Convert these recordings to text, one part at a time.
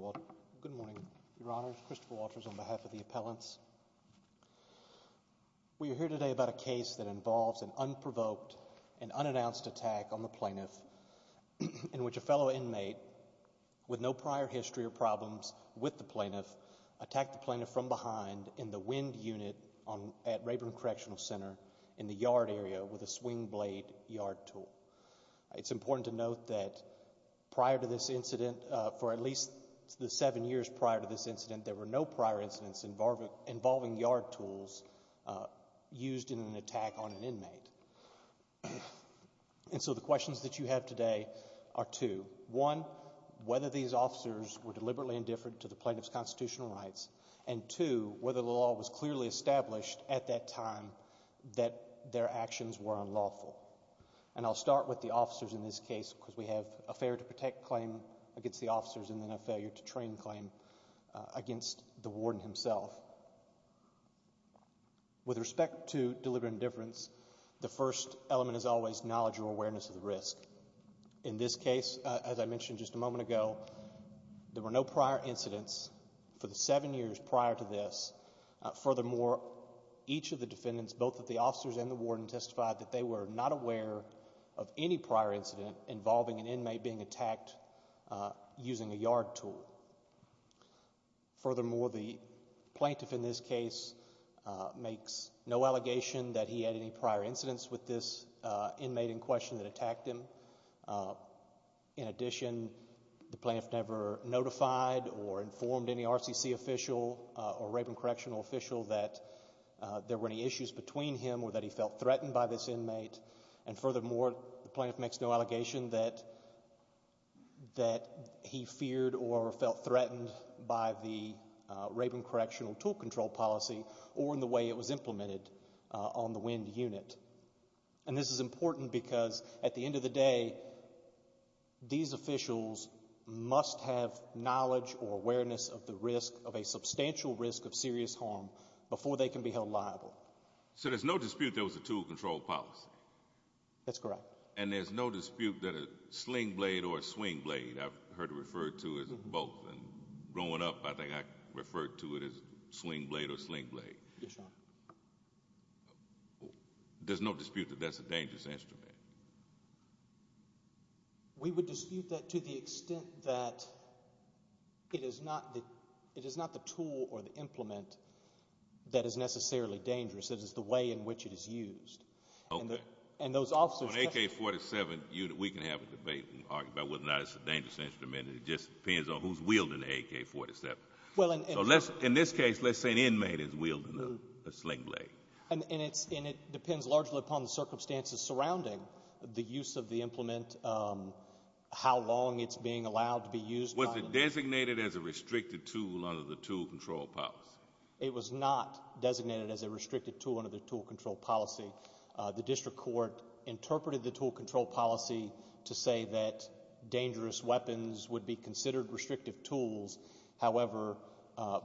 11. Good morning, Your Honor, Christopher Walters on behalf of the appellants. We are here today about a case that involves an unprovoked and unannounced attack on the plaintiff in which a fellow inmate with no prior history or problems with the plaintiff attacked the plaintiff from behind in the wind unit at Rayburn Correctional Center in the yard area with a swing blade yard tool. It's important to note that prior to this incident, for at least the seven years prior to this incident, there were no prior incidents involving yard tools used in an attack on an inmate. And so the questions that you have today are two. One, whether these officers were deliberately indifferent to the plaintiff's constitutional rights, and two, whether the law was clearly established at that time that their actions were unlawful. And I'll start with the officers in this case because we have a failure to protect claim against the officers and then a failure to train claim against the warden himself. With respect to deliberate indifference, the first element is always knowledge or awareness of the risk. In this case, as I mentioned just a moment ago, there were no prior incidents for the seven years prior to this. Furthermore, each of the defendants, both of the officers and the warden, testified that they were not aware of any prior incident involving an inmate being attacked using a yard tool. Furthermore, the plaintiff in this case makes no allegation that he had any prior incidents with this inmate in question that attacked him. In addition, the plaintiff never notified or informed any RCC official or Raven Correctional official that there were any issues between him or that he felt threatened by this inmate. And furthermore, the plaintiff makes no allegation that he feared or felt threatened by the Raven And this is important because at the end of the day, these officials must have knowledge or awareness of the risk, of a substantial risk of serious harm, before they can be held liable. So there's no dispute there was a tool control policy? That's correct. And there's no dispute that a sling blade or a swing blade, I've heard it referred to as both. And growing up, I think I referred to it as swing blade or sling blade. Yes, Your Honor. There's no dispute that that's a dangerous instrument? We would dispute that to the extent that it is not the tool or the implement that is necessarily dangerous. It is the way in which it is used. And those officers... Okay. On AK-47, we can have a debate and argue about whether or not it's a dangerous instrument. It just depends on who's wielding the AK-47. In this case, let's say an inmate is wielding a sling blade. And it depends largely upon the circumstances surrounding the use of the implement, how long it's being allowed to be used. Was it designated as a restricted tool under the tool control policy? It was not designated as a restricted tool under the tool control policy. The district court interpreted the tool control policy to say that dangerous weapons would be considered restrictive tools. However,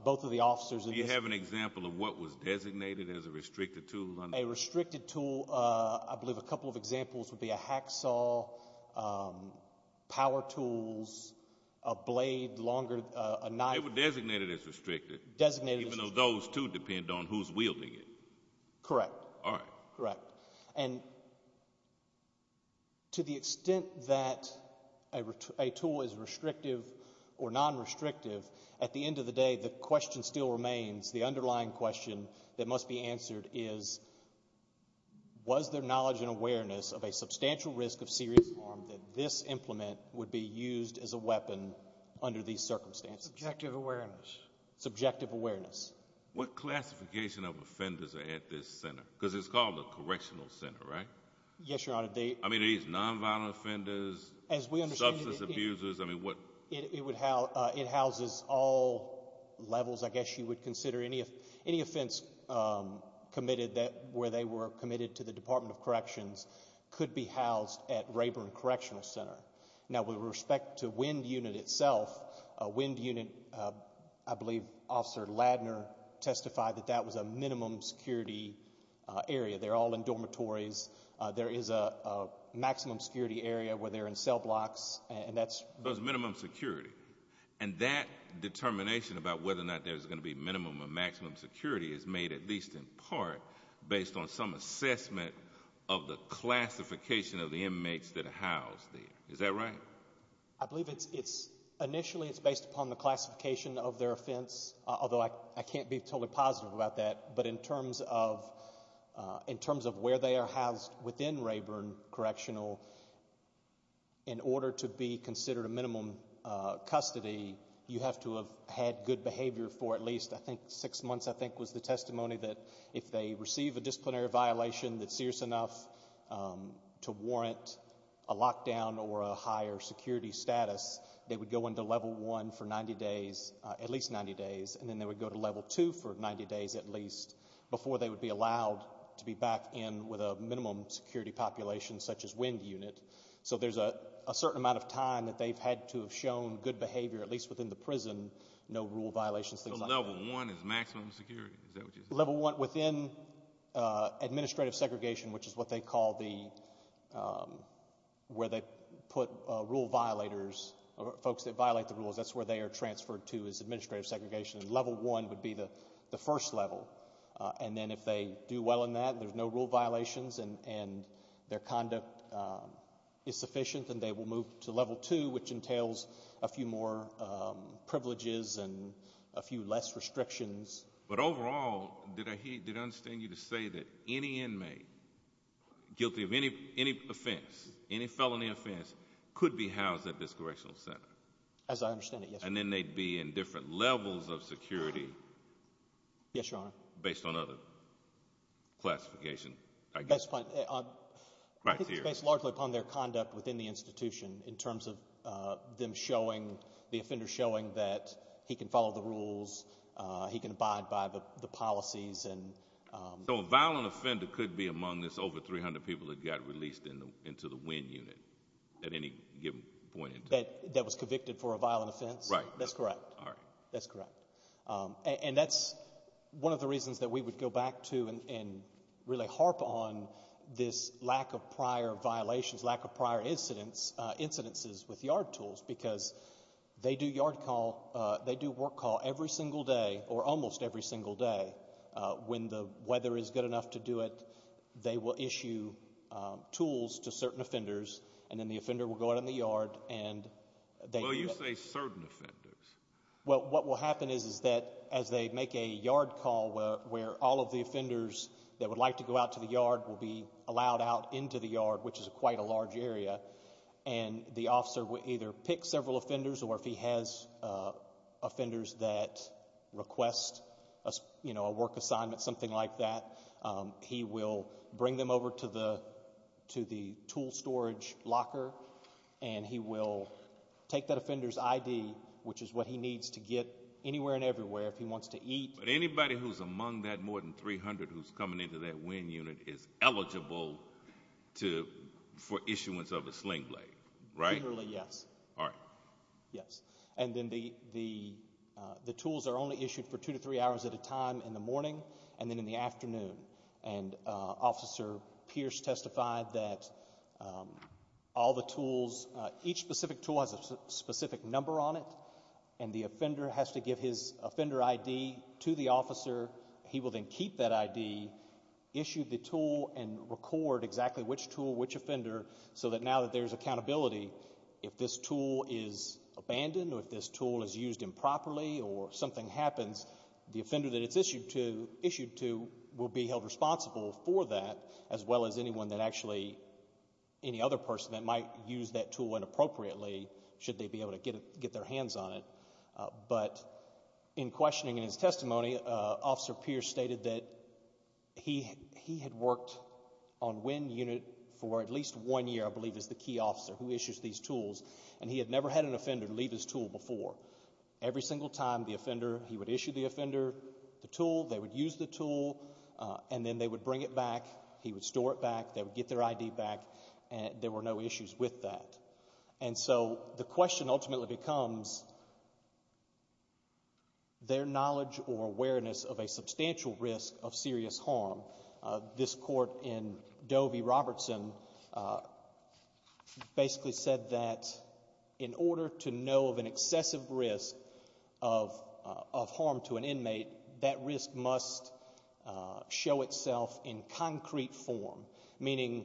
both of the officers... Do you have an example of what was designated as a restricted tool? A restricted tool, I believe a couple of examples would be a hacksaw, power tools, a blade, longer, a knife. They were designated as restricted. Designated as restricted. Even though those, too, depend on who's wielding it. Correct. All right. Correct. And to the extent that a tool is restrictive or non-restrictive, at the end of the day, the question still remains, the underlying question that must be answered is, was there knowledge and awareness of a substantial risk of serious harm that this implement would be used as a weapon under these circumstances? Subjective awareness. Subjective awareness. What classification of offenders are at this center? Because it's called a correctional center, right? Yes, Your Honor. I mean, are these non-violent offenders, substance abusers, I mean, what? It houses all levels, I guess you would consider. Any offense committed where they were committed to the Department of Corrections could be housed at Rayburn Correctional Center. Now, with respect to WIND unit itself, WIND unit, I believe Officer Ladner testified that that was a minimum security area. They're all in dormitories. There is a maximum security area where they're in cell blocks, and that's... It was minimum security. And that determination about whether or not there's going to be minimum or maximum security is made at least in part based on some assessment of the classification of the inmates that are housed there. Is that right? I believe it's... Initially, it's based upon the classification of their offense, although I can't be totally positive about that. But in terms of where they are housed within Rayburn Correctional, in order to be considered a minimum custody, you have to have had good behavior for at least, I think, six months, I think was the testimony that if they receive a disciplinary violation that's serious enough to warrant a lockdown or a higher security status, they would go into Level 1 for 90 days, at least 90 days, and then they would go to Level 2 for 90 days at least before they would be allowed to be back in with a minimum security population such as WIND unit. So there's a certain amount of time that they've had to have shown good behavior, at least within the prison, no rule violations, things like that. So Level 1 is maximum security? Is that what you're saying? Level 1 within administrative segregation, which is what they call the... where they put rule violators, folks that violate the rules, that's where they are transferred to is administrative segregation. Level 1 would be the first level. And then if they do well in that, there's no rule violations and their conduct is sufficient, then they will move to Level 2, which entails a few more privileges and a few less restrictions. But overall, did I hear... did I understand you to say that any inmate guilty of any offense, any felony offense, could be housed at this correctional center? As I understand it, yes. And then they'd be in different levels of security? Yes, Your Honor. Based on other classification, I guess? That's fine. I think it's based largely upon their conduct within the institution in terms of them showing, the offender showing that he can follow the rules, he can abide by the policies and... So a violent offender could be among this over 300 people that got released into the WIN unit at any given point in time? That was convicted for a violent offense? Right. That's correct. All right. That's correct. And that's one of the reasons that we would go back to and really harp on this lack of They do yard call, they do work call every single day, or almost every single day. When the weather is good enough to do it, they will issue tools to certain offenders and then the offender will go out in the yard and they do it. Well, you say certain offenders. Well, what will happen is that as they make a yard call where all of the offenders that would like to go out to the yard will be allowed out into the yard, which is quite a large area, and the officer will either pick several offenders, or if he has offenders that request a work assignment, something like that, he will bring them over to the tool storage locker and he will take that offender's ID, which is what he needs to get anywhere and everywhere if he wants to eat. But anybody who's among that more than 300 who's coming into that WIN unit is eligible for issuance of a sling blade, right? Generally, yes. All right. Yes. And then the tools are only issued for two to three hours at a time in the morning and then in the afternoon. And Officer Pierce testified that all the tools, each specific tool has a specific number on it and the offender has to give his offender ID to the officer. He will then keep that ID, issue the tool, and record exactly which tool, which offender, so that now that there's accountability, if this tool is abandoned or if this tool is used improperly or something happens, the offender that it's issued to will be held responsible for that as well as anyone that actually, any other person that might use that tool inappropriately should they be able to get their hands on it. But in questioning in his testimony, Officer Pierce stated that he had worked on WIN unit for at least one year, I believe, as the key officer who issues these tools, and he had never had an offender leave his tool before. Every single time the offender, he would issue the offender the tool, they would use the tool, and then they would bring it back, he would store it back, they would get their ID back, and there were no issues with that. And so the question ultimately becomes their knowledge or awareness of a substantial risk of serious harm. This court in Dovey-Robertson basically said that in order to know of an excessive risk of harm to an inmate, that risk must show itself in concrete form, meaning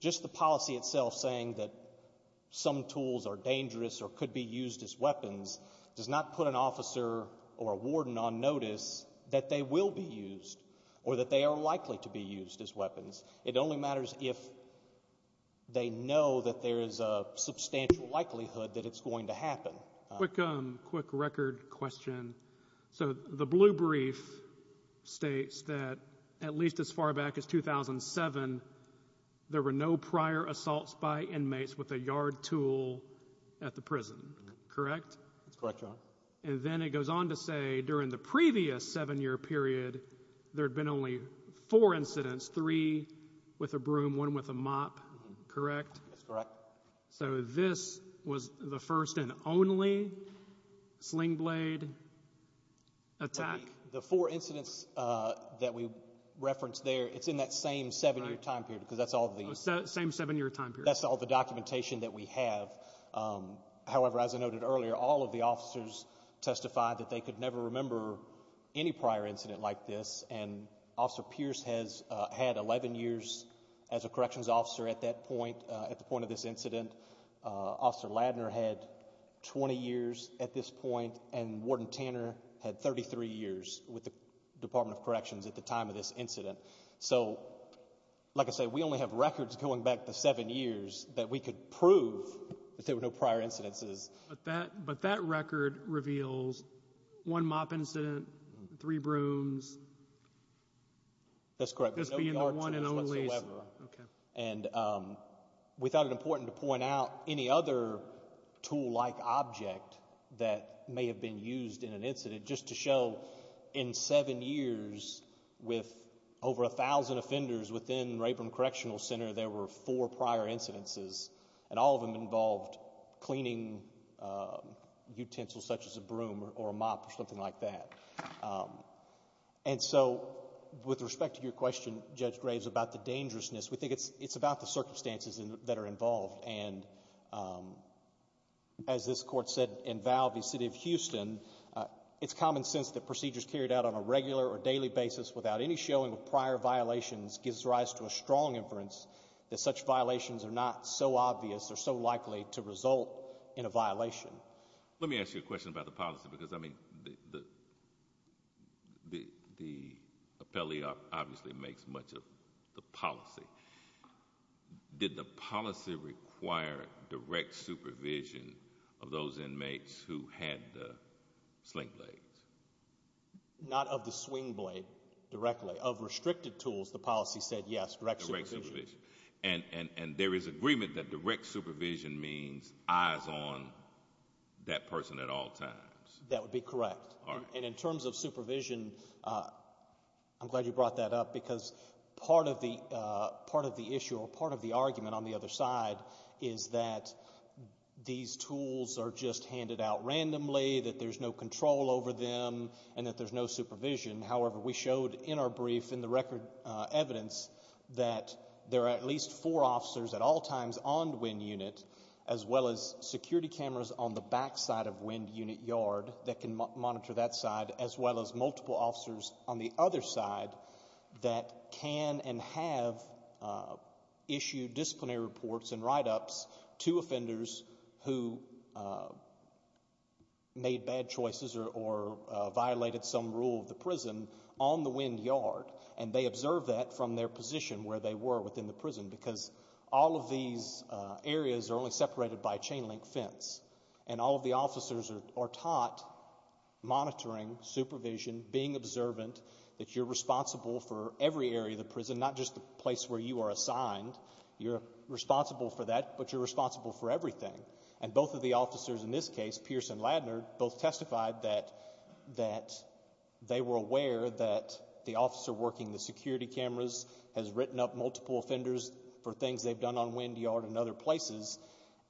just the fact that some tools are dangerous or could be used as weapons does not put an officer or a warden on notice that they will be used or that they are likely to be used as weapons. It only matters if they know that there is a substantial likelihood that it's going to happen. Quick record question. So the blue brief states that at least as far back as 2007, there were no prior assaults by inmates with a yard tool at the prison, correct? That's correct, Your Honor. And then it goes on to say during the previous seven-year period, there had been only four incidents, three with a broom, one with a mop, correct? That's correct. So this was the first and only sling blade attack? The four incidents that we referenced there, it's in that same seven-year time period because that's all the... Same seven-year time period. That's all the documentation that we have, however, as I noted earlier, all of the officers testified that they could never remember any prior incident like this and Officer Pierce has had 11 years as a corrections officer at that point, at the point of this incident. Officer Ladner had 20 years at this point and Warden Tanner had 33 years with the Department of Corrections at the time of this incident. So like I said, we only have records going back to seven years that we could prove that there were no prior incidences. But that record reveals one mop incident, three brooms. That's correct. There's no yard tools whatsoever. And we thought it important to point out any other tool-like object that may have been Over a thousand offenders within Rayburn Correctional Center, there were four prior incidences and all of them involved cleaning utensils such as a broom or a mop or something like that. And so, with respect to your question, Judge Graves, about the dangerousness, we think it's about the circumstances that are involved and as this court said in Valvey, the city of Houston, it's common sense that procedures carried out on a regular or daily basis without any showing of prior violations gives rise to a strong inference that such violations are not so obvious or so likely to result in a violation. Let me ask you a question about the policy because, I mean, the appellee obviously makes much of the policy. Did the policy require direct supervision of those inmates who had the sling blades? Not of the swing blade directly. Of restricted tools, the policy said yes, direct supervision. And there is agreement that direct supervision means eyes on that person at all times. That would be correct. And in terms of supervision, I'm glad you brought that up because part of the issue or part of the argument on the other side is that these tools are just handed out randomly, that there's no control over them, and that there's no supervision. However, we showed in our brief in the record evidence that there are at least four officers at all times on WEND unit as well as security cameras on the backside of WEND unit yard that can monitor that side as well as multiple officers on the other side that can and have issued disciplinary reports and write-ups to offenders who made bad choices or violated some rule of the prison on the WEND yard. And they observe that from their position where they were within the prison because all of these areas are only separated by a chain link fence. And all of the officers are taught monitoring, supervision, being observant, that you're assigned, you're responsible for that, but you're responsible for everything. And both of the officers in this case, Pierce and Ladner, both testified that they were aware that the officer working the security cameras has written up multiple offenders for things they've done on WEND yard and other places.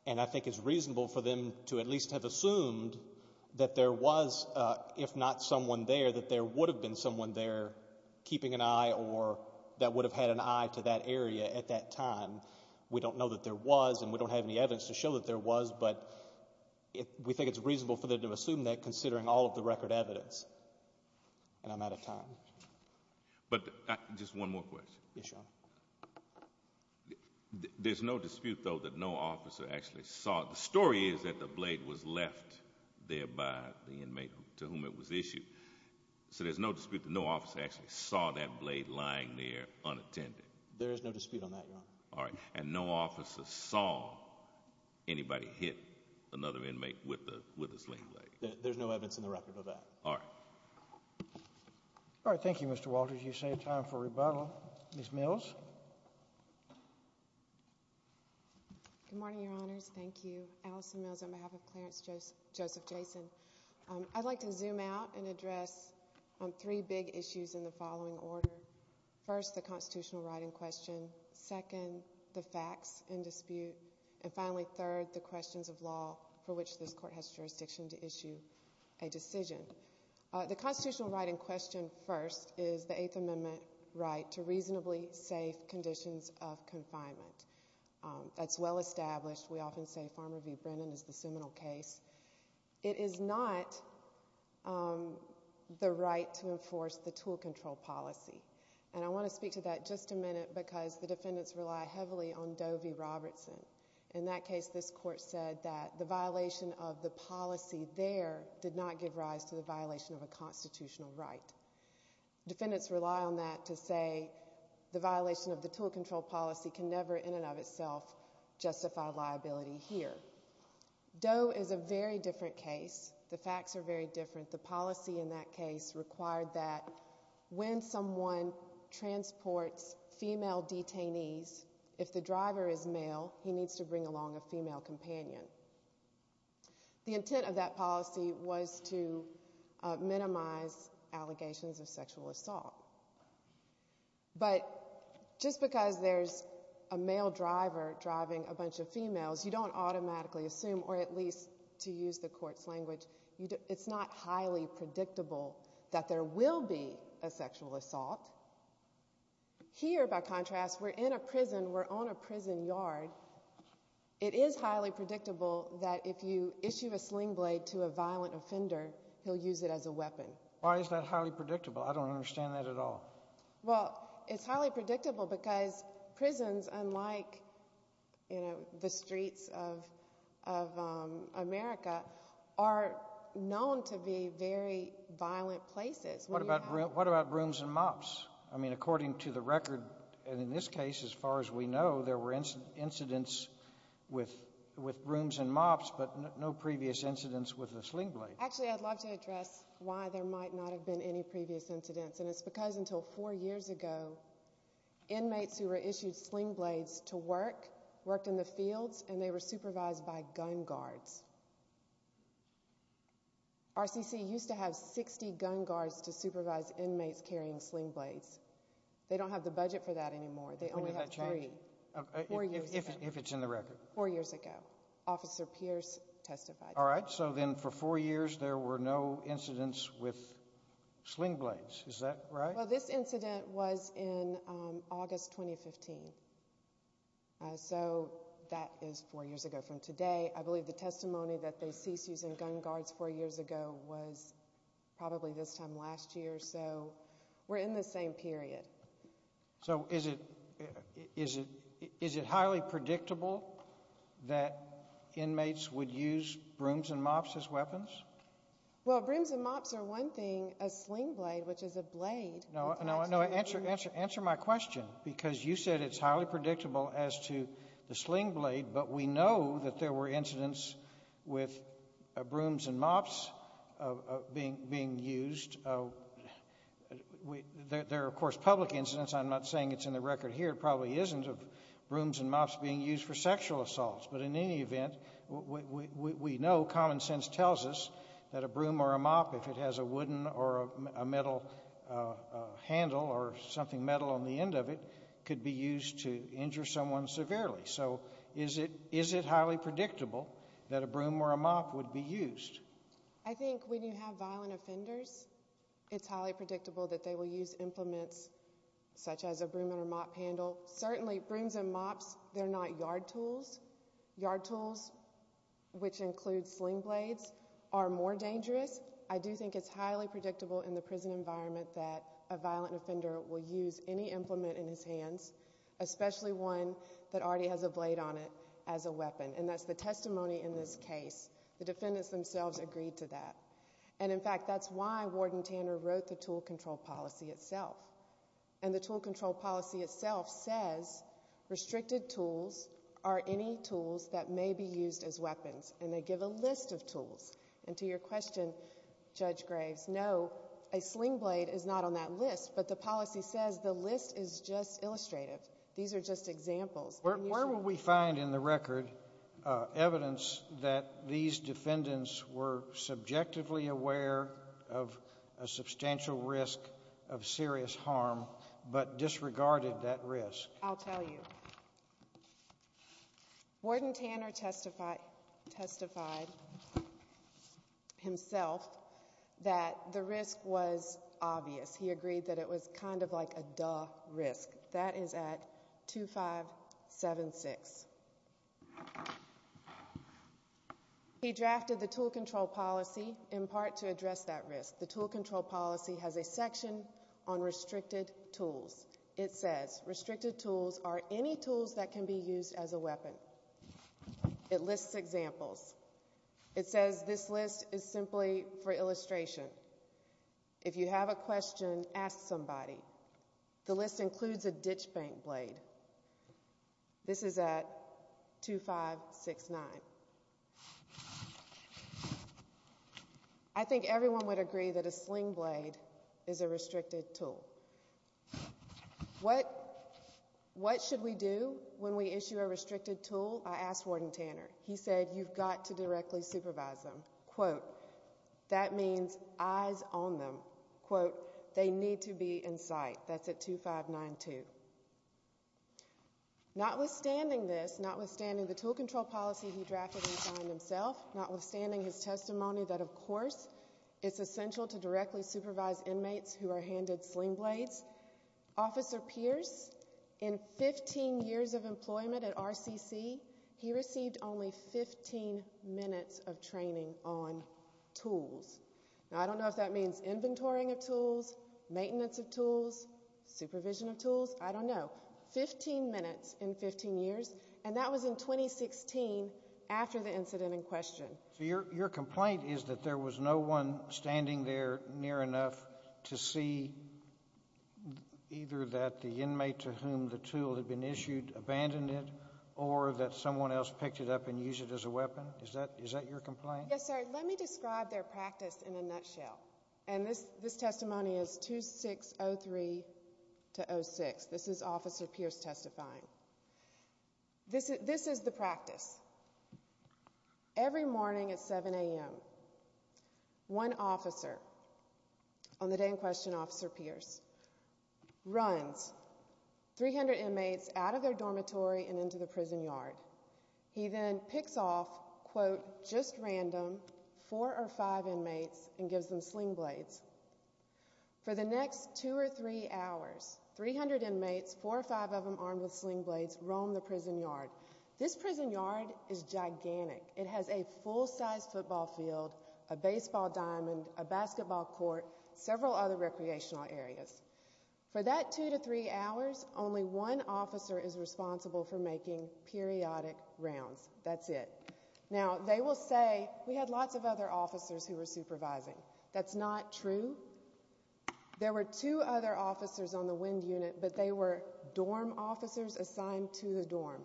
And I think it's reasonable for them to at least have assumed that there was, if not someone there, that there would have been someone there keeping an eye or that would have had an eye to that area at that time. We don't know that there was and we don't have any evidence to show that there was, but we think it's reasonable for them to have assumed that considering all of the record evidence. And I'm out of time. But just one more question. Yes, Your Honor. There's no dispute though that no officer actually saw, the story is that the blade was left there by the inmate to whom it was issued, so there's no dispute that no officer actually saw that blade lying there unattended. There is no dispute on that, Your Honor. And no officer saw anybody hit another inmate with a sling blade? There's no evidence in the record of that. All right. All right. Thank you, Mr. Walters. You've saved time for rebuttal. Ms. Mills? Good morning, Your Honors. Thank you. Allison Mills on behalf of Clarence Joseph Jason. I'd like to zoom out and address three big issues in the following order. First, the constitutional right in question. Second, the facts in dispute. And finally, third, the questions of law for which this court has jurisdiction to issue a decision. The constitutional right in question first is the Eighth Amendment right to reasonably safe conditions of confinement. That's well established. We often say Farmer v. Brennan is the seminal case. It is not the right to enforce the tool control policy. And I want to speak to that just a minute because the defendants rely heavily on Doe v. Robertson. In that case, this court said that the violation of the policy there did not give rise to the violation of a constitutional right. Defendants rely on that to say the violation of the tool control policy can never in and of itself justify liability here. Doe is a very different case. The facts are very different. The policy in that case required that when someone transports female detainees, if the driver is male, he needs to bring along a female companion. The intent of that policy was to minimize allegations of sexual assault. But just because there's a male driver driving a bunch of females, you don't automatically assume or at least to use the court's language, it's not highly predictable that there will be a sexual assault. Here by contrast, we're in a prison, we're on a prison yard. It is highly predictable that if you issue a sling blade to a violent offender, he'll use it as a weapon. Why is that highly predictable? I don't understand that at all. Well, it's highly predictable because prisons, unlike the streets of America, are known to be very violent places. What about brooms and mops? I mean, according to the record, in this case, as far as we know, there were incidents with brooms and mops, but no previous incidents with a sling blade. Actually, I'd love to address why there might not have been any previous incidents. And it's because until four years ago, inmates who were issued sling blades to work, worked in the fields, and they were supervised by gun guards. RCC used to have 60 gun guards to supervise inmates carrying sling blades. They don't have the budget for that anymore. They only have three. When did that change? Four years ago. If it's in the record. Four years ago. Officer Pierce testified. All right. So then for four years, there were no incidents with sling blades. Is that right? Well, this incident was in August 2015, so that is four years ago from today. I believe the testimony that they ceased using gun guards four years ago was probably this time last year, so we're in the same period. So is it highly predictable that inmates would use brooms and mops as weapons? Well, brooms and mops are one thing, a sling blade, which is a blade. No, answer my question, because you said it's highly predictable as to the sling blade, but we know that there were incidents with brooms and mops being used. There are, of course, public incidents. I'm not saying it's in the record here. It probably isn't of brooms and mops being used for sexual assaults, but in any event, we know common sense tells us that a broom or a mop, if it has a wooden or a metal handle or something metal on the end of it, could be used to injure someone severely. So is it highly predictable that a broom or a mop would be used? I think when you have violent offenders, it's highly predictable that they will use implements such as a broom and a mop handle. Certainly, brooms and mops, they're not yard tools. Yard tools, which include sling blades, are more dangerous. I do think it's highly predictable in the prison environment that a violent offender will use any implement in his hands, especially one that already has a blade on it as a weapon, and that's the testimony in this case. The defendants themselves agreed to that. And in fact, that's why Warden Tanner wrote the tool control policy itself. And the tool control policy itself says, restricted tools are any tools that may be used as weapons, and they give a list of tools. And to your question, Judge Graves, no, a sling blade is not on that list, but the policy says the list is just illustrative. These are just examples. Where will we find in the record evidence that these defendants were subjectively aware of a substantial risk of serious harm, but disregarded that risk? I'll tell you. Warden Tanner testified himself that the risk was obvious. He agreed that it was kind of like a duh risk. That is at 2576. He drafted the tool control policy in part to address that risk. The tool control policy has a section on restricted tools. It says, restricted tools are any tools that can be used as a weapon. It lists examples. It says this list is simply for illustration. If you have a question, ask somebody. The list includes a ditch bank blade. This is at 2569. I think everyone would agree that a sling blade is a restricted tool. What should we do when we issue a restricted tool? I asked Warden Tanner. He said, you've got to directly supervise them. That means eyes on them. They need to be in sight. That's at 2592. Notwithstanding this, notwithstanding the tool control policy he drafted and signed himself, notwithstanding his testimony that, of course, it's essential to directly supervise inmates who are handed sling blades, Officer Pierce, in 15 years of employment at RCC, he received only 15 minutes of training on tools. Now, I don't know if that means inventorying of tools, maintenance of tools, supervision of tools. I don't know. 15 minutes in 15 years. And that was in 2016 after the incident in question. So your complaint is that there was no one standing there near enough to see either that the inmate to whom the tool had been issued abandoned it, or that someone else picked it up and used it as a weapon? Is that your complaint? Yes, sir. Let me describe their practice in a nutshell. And this testimony is 2603 to 06. This is Officer Pierce testifying. This is the practice. Every morning at 7 AM, one officer on the day in question, Officer Pierce, runs 300 inmates out of their dormitory and into the prison yard. He then picks off, quote, just random four or five inmates and gives them sling blades. For the next two or three hours, 300 inmates, four or five of them armed with sling blades, roam the prison yard. This prison yard is gigantic. It has a full-sized football field, a baseball diamond, a basketball court, several other recreational areas. For that two to three hours, only one officer is responsible for making periodic rounds. That's it. Now, they will say, we had lots of other officers who were supervising. That's not true. There were two other officers on the wind unit, but they were dorm officers assigned to the dorm.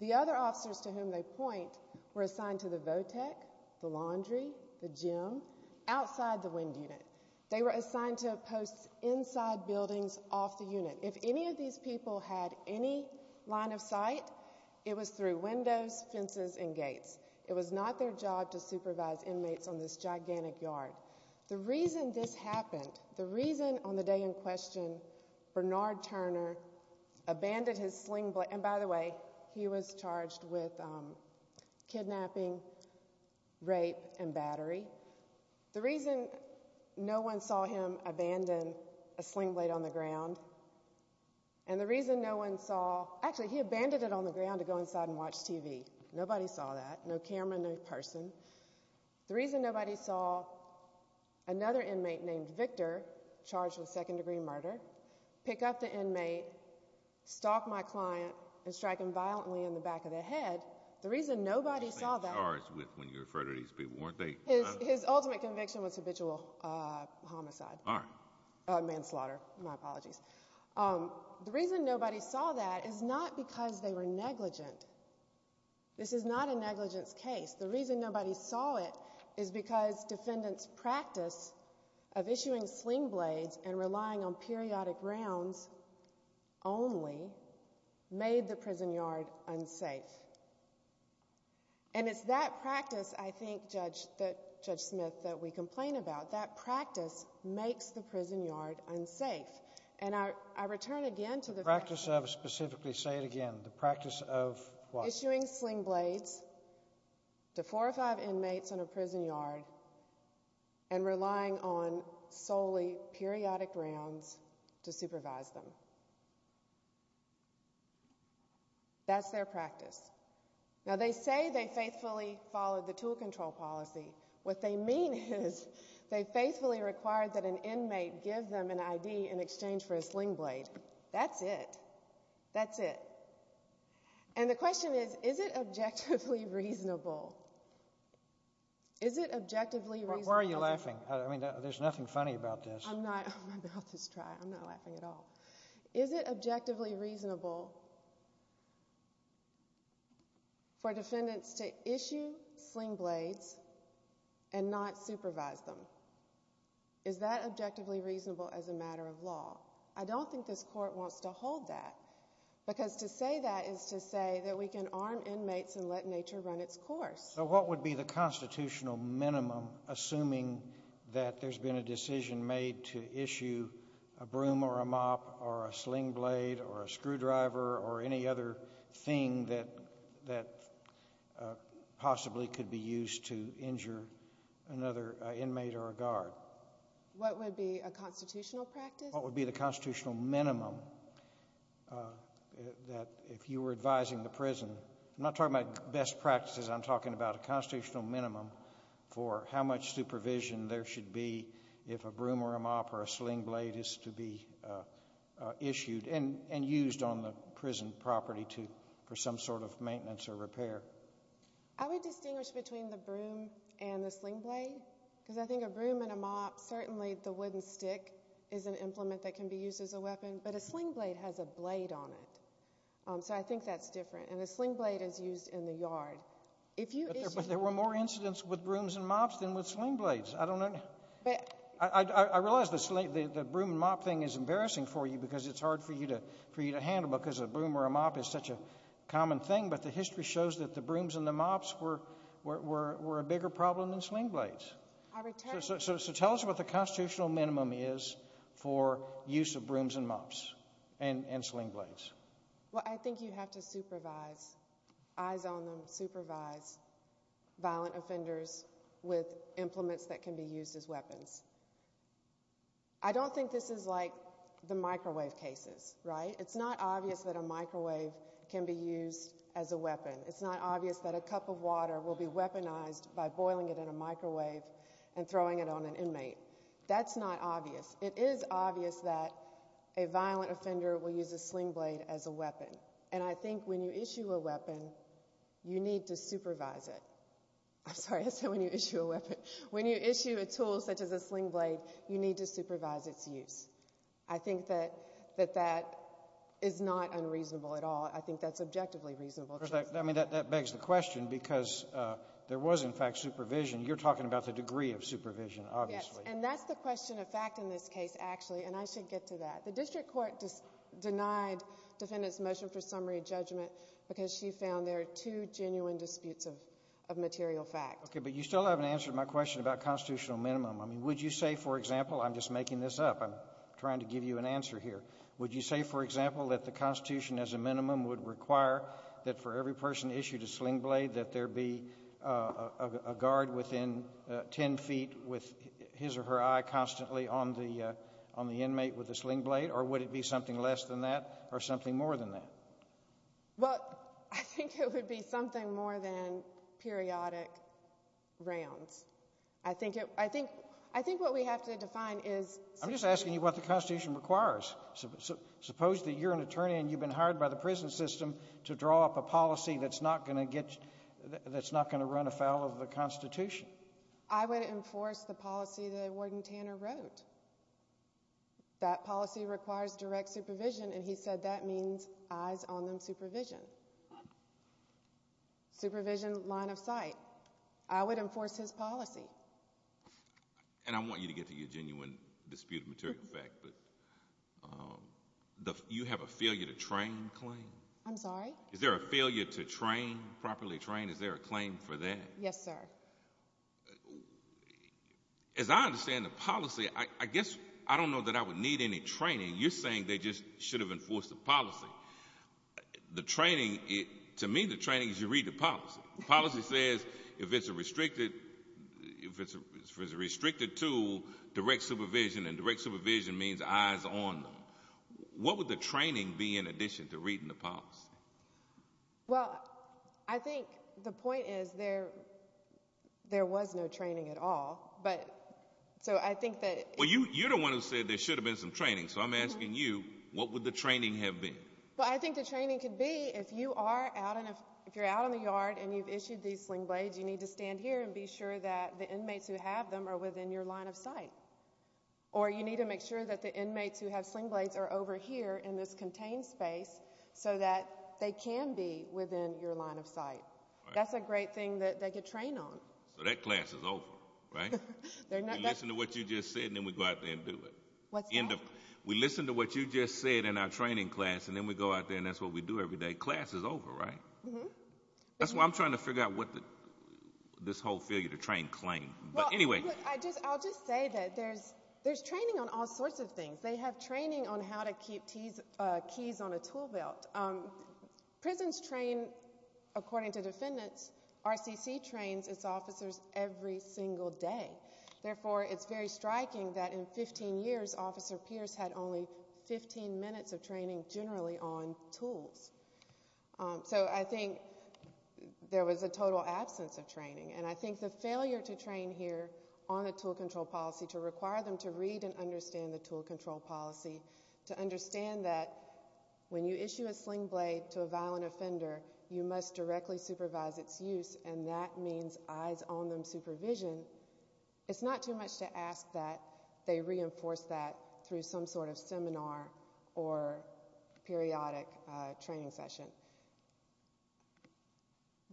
The other officers to whom they point were assigned to the vo-tech, the laundry, the gym, outside the wind unit. They were assigned to posts inside buildings off the unit. If any of these people had any line of sight, it was through windows, fences, and gates. It was not their job to supervise inmates on this gigantic yard. The reason this happened, the reason on the day in question Bernard Turner abandoned his sling blade, and by the way, he was charged with kidnapping, rape, and battery. The reason no one saw him abandon a sling blade on the ground, and the reason no one saw, actually, he abandoned it on the ground to go inside and watch TV. Nobody saw that. No camera, no person. The reason nobody saw another inmate named Victor, charged with second degree murder, pick up the inmate, stalk my client, and strike him violently in the back of the head, the reason nobody saw that. He was charged with, when you refer to these people, weren't they? His ultimate conviction was habitual homicide, manslaughter. My apologies. The reason nobody saw that is not because they were negligent. This is not a negligence case. The reason nobody saw it is because defendants' practice of issuing sling blades and relying on periodic rounds only made the prison yard unsafe. And it's that practice, I think, Judge Smith, that we complain about. That practice makes the prison yard unsafe. And I return again to the fact that... The practice of, specifically, say it again. The practice of what? Issuing sling blades to four or five inmates in a prison yard and relying on solely periodic rounds to supervise them. That's their practice. Now, they say they faithfully followed the tool control policy. What they mean is they faithfully required that an inmate give them an ID in exchange for a sling blade. That's it. That's it. And the question is, is it objectively reasonable? Is it objectively reasonable? Why are you laughing? I mean, there's nothing funny about this. I'm not... I'm about to cry. I'm not laughing at all. Is it objectively reasonable for defendants to issue sling blades and not supervise them? Is that objectively reasonable as a matter of law? I don't think this court wants to hold that. Because to say that is to say that we can arm inmates and let nature run its course. So what would be the constitutional minimum assuming that there's been a decision made to issue a broom or a mop or a sling blade or a screwdriver or any other thing that possibly could be used to injure another inmate or a guard? What would be a constitutional practice? What would be the constitutional minimum that if you were advising the prison... I'm not talking about best practices. I'm talking about a constitutional minimum for how much supervision there should be if a broom or a mop or a sling blade is to be issued and used on the prison property for some sort of maintenance or repair. I would distinguish between the broom and the sling blade. Because I think a broom and a mop, certainly the wooden stick is an implement that can be used as a weapon. But a sling blade has a blade on it. So I think that's different. And a sling blade is used in the yard. But there were more incidents with brooms and mops than with sling blades. I don't know... I realize the broom and mop thing is embarrassing for you because it's hard for you to handle because a broom or a mop is such a common thing. But the history shows that the brooms and the mops were a bigger problem than sling blades. So tell us what the constitutional minimum is for use of brooms and mops and sling blades. Well, I think you have to supervise, eyes on them, supervise violent offenders with implements that can be used as weapons. I don't think this is like the microwave cases, right? It's not obvious that a microwave can be used as a weapon. It's not obvious that a cup of water will be weaponized by boiling it in a microwave and throwing it on an inmate. That's not obvious. It is obvious that a violent offender will use a sling blade as a weapon. And I think when you issue a weapon, you need to supervise it. I'm sorry, I said when you issue a weapon. When you issue a tool such as a sling blade, you need to supervise its use. I think that that is not unreasonable at all. I think that's objectively reasonable. I mean, that begs the question because there was, in fact, supervision. You're talking about the degree of supervision, obviously. And that's the question of fact in this case, actually. And I should get to that. The district court denied defendant's motion for summary judgment because she found there are two genuine disputes of material fact. Okay, but you still haven't answered my question about constitutional minimum. I mean, would you say, for example, I'm just making this up. I'm trying to give you an answer here. Would you say, for example, that the Constitution as a minimum would require that for every person issued a sling blade, that there be a guard within 10 feet with his or her eye constantly on the inmate with a sling blade? Or would it be something less than that or something more than that? Well, I think it would be something more than periodic rounds. I think what we have to define is... I'm just asking you what the Constitution requires. Suppose that you're an attorney and you've been hired by the prison system to draw up a policy that's not going to run afoul of the Constitution. I would enforce the policy that Warden Tanner wrote. That policy requires direct supervision. And he said that means eyes on them supervision. Supervision, line of sight. I would enforce his policy. And I want you to get to your genuine disputed material fact, but you have a failure to train claim? I'm sorry? Is there a failure to train, properly train? Is there a claim for that? Yes, sir. As I understand the policy, I guess I don't know that I would need any training. You're saying they just should have enforced the policy. The training, to me, the training is you read the policy. Policy says if it's a restricted tool, direct supervision. And direct supervision means eyes on them. What would the training be in addition to reading the policy? Well, I think the point is there was no training at all. But so I think that... Well, you're the one who said there should have been some training. So I'm asking you, what would the training have been? Well, I think the training could be if you are out and if you're out in the yard and you've issued these sling blades, you need to stand here and be sure that the inmates who have them are within your line of sight. Or you need to make sure that the inmates who have sling blades are over here in this contained space so that they can be within your line of sight. That's a great thing that they could train on. So that class is over, right? They're not... Listen to what you just said and then we go out there and do it. What's that? We listen to what you just said in our training class and then we go out there and that's what we do every day. Class is over, right? That's why I'm trying to figure out what this whole failure to train claim. But anyway... I'll just say that there's training on all sorts of things. They have training on how to keep keys on a tool belt. Prisons train, according to defendants, RCC trains its officers every single day. Therefore, it's very striking that in 15 years, Officer Pierce had only 15 minutes of training generally on tools. So I think there was a total absence of training. And I think the failure to train here on a tool control policy, to require them to read and understand the tool control policy, to understand that when you issue a sling blade to a violent offender, you must directly supervise its use and that means eyes on them supervision. It's not too much to ask that they reinforce that through some sort of seminar or periodic training session.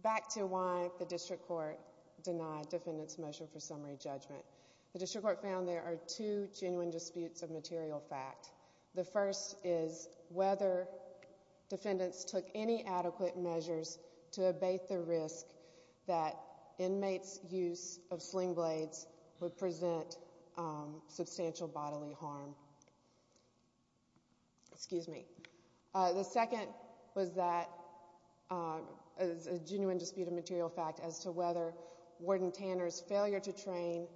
Back to why the District Court denied defendants' motion for summary judgment. The District Court found there are two genuine disputes of material fact. The first is whether defendants took any adequate measures to abate the risk that inmates' use of sling blades would present substantial bodily harm. Excuse me. The second was that a genuine dispute of material fact as to whether Warden Tanner's failure to train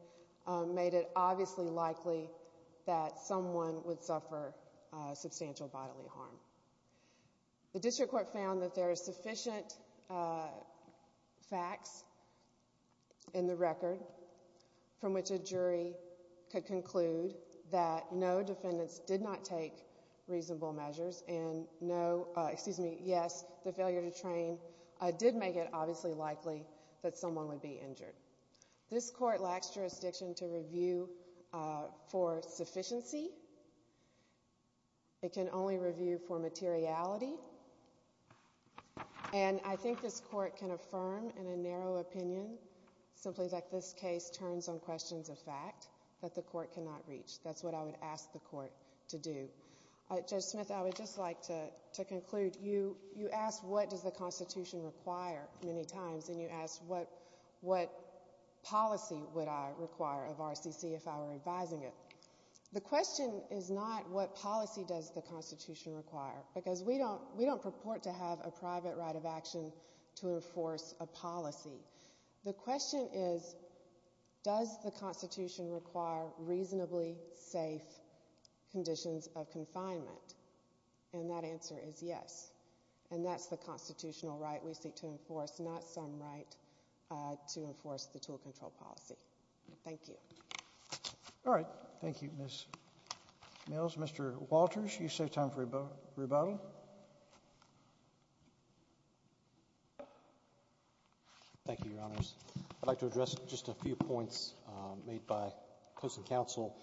made it obviously likely that someone would suffer substantial bodily harm. The District Court found that there are sufficient facts in the record from which a jury could conclude that no defendants did not take reasonable measures and no, excuse me, yes, the failure to train did make it obviously likely that someone would be injured. This court lacks jurisdiction to review for sufficiency. It can only review for materiality. And I think this court can affirm in a narrow opinion simply that this case turns on questions of fact that the court cannot reach. That's what I would ask the court to do. Judge Smith, I would just like to conclude. You asked what does the Constitution require many times and you asked what policy would I require of RCC if I were advising it. The question is not what policy does the Constitution require because we don't purport to have a private right of action to enforce a policy. The question is does the Constitution require reasonably safe conditions of confinement? And that answer is yes. And that's the constitutional right we seek to enforce, not some right to enforce the tool control policy. Thank you. All right. Thank you, Ms. Mills. Mr. Walters, you save time for rebuttal. Thank you, Your Honors. I'd like to address just a few points made by close counsel.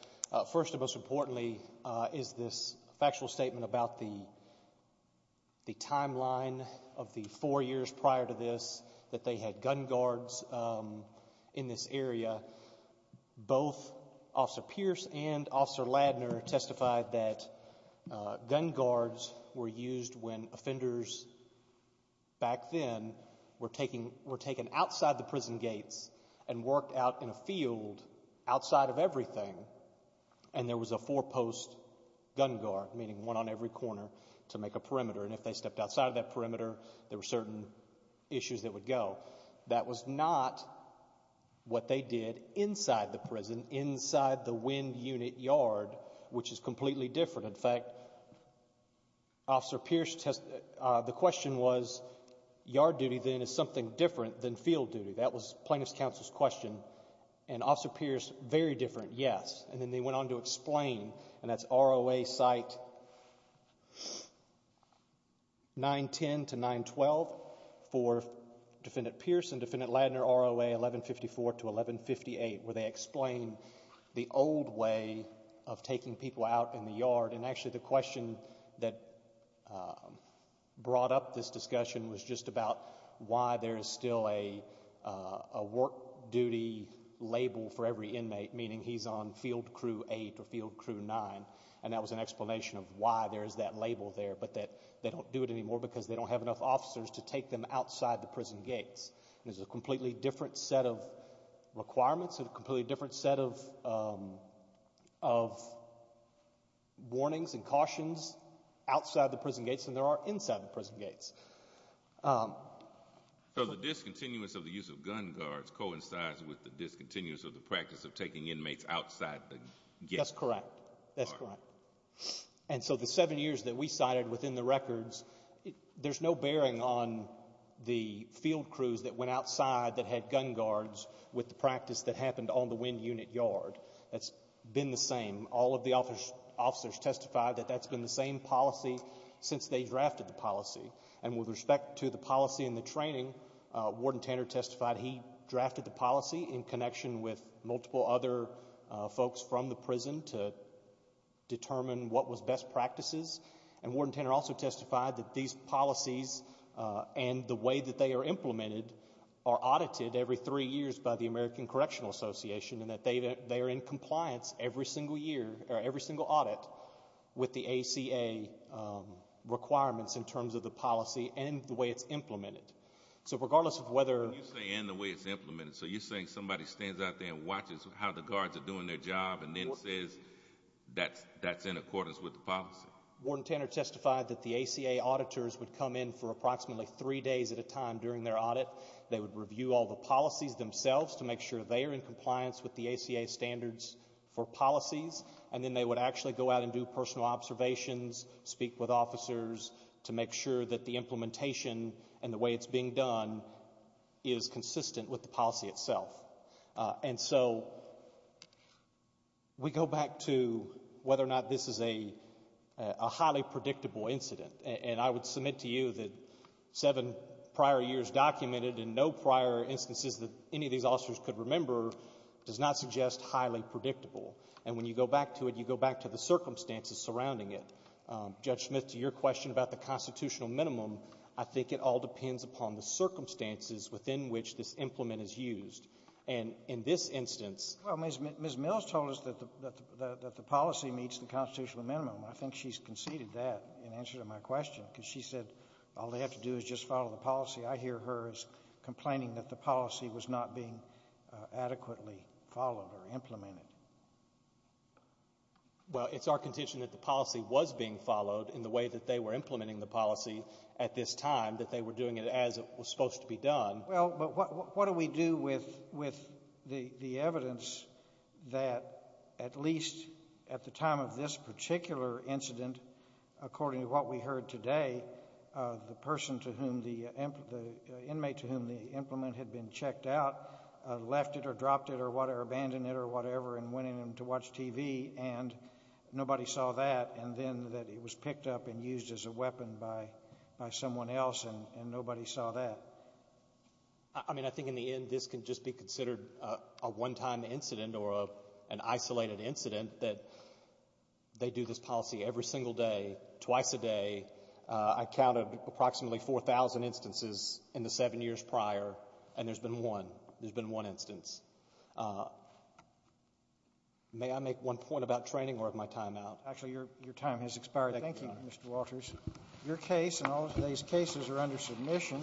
First and most importantly is this factual statement about the timeline of the four years prior to this that they had gun guards in this area. Both Officer Pierce and Officer Ladner testified that gun guards were used when offenders back then were taken outside the prison gates and worked out in a field outside of everything and there was a four-post gun guard, meaning one on every corner, to make a perimeter. And if they stepped outside of that perimeter, there were certain issues that would go. That was not what they did inside the prison, inside the wind unit yard, which is completely different. In fact, Officer Pierce, the question was, yard duty then is something different than field duty. That was plaintiff's counsel's question. And Officer Pierce, very different, yes. And then they went on to explain, and that's ROA site 910 to 912 for Defendant Pierce and Defendant Ladner, ROA 1154 to 1158, where they explain the old way of taking people out in the yard. And actually, the question that brought up this discussion was just about why there is still a work duty label for every inmate, meaning he's on field crew 8 or field crew 9. And that was an explanation of why there is that label there, but that they don't do it anymore because they don't have enough officers to take them outside the prison gates. There's a completely different set of requirements and a completely different set of warnings and cautions outside the prison gates than there are inside the prison gates. So the discontinuous of the use of gun guards coincides with the discontinuous of the practice of taking inmates outside the gates. That's correct. That's correct. And so the seven years that we cited within the records, there's no bearing on the field crews that went outside that had gun guards with the practice that happened on the wind unit yard. That's been the same. All of the officers testified that that's been the same policy since they drafted the policy. And with respect to the policy and the training, Warden Tanner testified he drafted the policy in connection with multiple other folks from the prison to determine what was best practices. And Warden Tanner also testified that these policies and the way that they are implemented are audited every three years by the American Correctional Association and that they are in compliance every single year, or every single audit, with the ACA requirements in terms of the policy and the way it's implemented. So regardless of whether... When you say, and the way it's implemented, so you're saying somebody stands out there and watches how the guards are doing their job and then says that's in accordance with the policy? Warden Tanner testified that the ACA auditors would come in for approximately three days at a time during their audit. They would review all the policies themselves to make sure they are in compliance with the ACA standards for policies. And then they would actually go out and do personal observations, speak with officers to make sure that the implementation and the way it's being done is consistent with the policy itself. And so we go back to whether or not this is a highly predictable incident. And I would submit to you that seven prior years documented and no prior instances that any of these officers could remember does not suggest highly predictable. And when you go back to it, you go back to the circumstances surrounding it. Judge Smith, to your question about the constitutional minimum, I think it all depends upon the circumstances within which this implement is used. And in this instance... Well, Ms. Mills told us that the policy meets the constitutional minimum. I think she's conceded that in answer to my question because she said all they have to do is just follow the policy. I hear her as complaining that the policy was not being adequately followed or implemented. Well, it's our contention that the policy was being followed in the way that they were implementing the policy at this time, that they were doing it as it was supposed to be done. Well, but what do we do with the evidence that at least at the time of this particular incident, according to what we heard today, the person to whom the... the inmate to whom the implement had been checked out left it or dropped it or abandoned it or whatever and went in to watch TV, and nobody saw that, and then that it was picked up and used as a weapon by someone else, and nobody saw that? I mean, I think in the end, this can just be considered a one-time incident or an isolated incident that they do this policy every single day, twice a day. I counted approximately 4,000 instances in the seven years prior, and there's been one. There's been one instance. May I make one point about training or of my time out? Actually, your time has expired. Thank you, Mr. Walters. Your case and all of today's cases are under submission.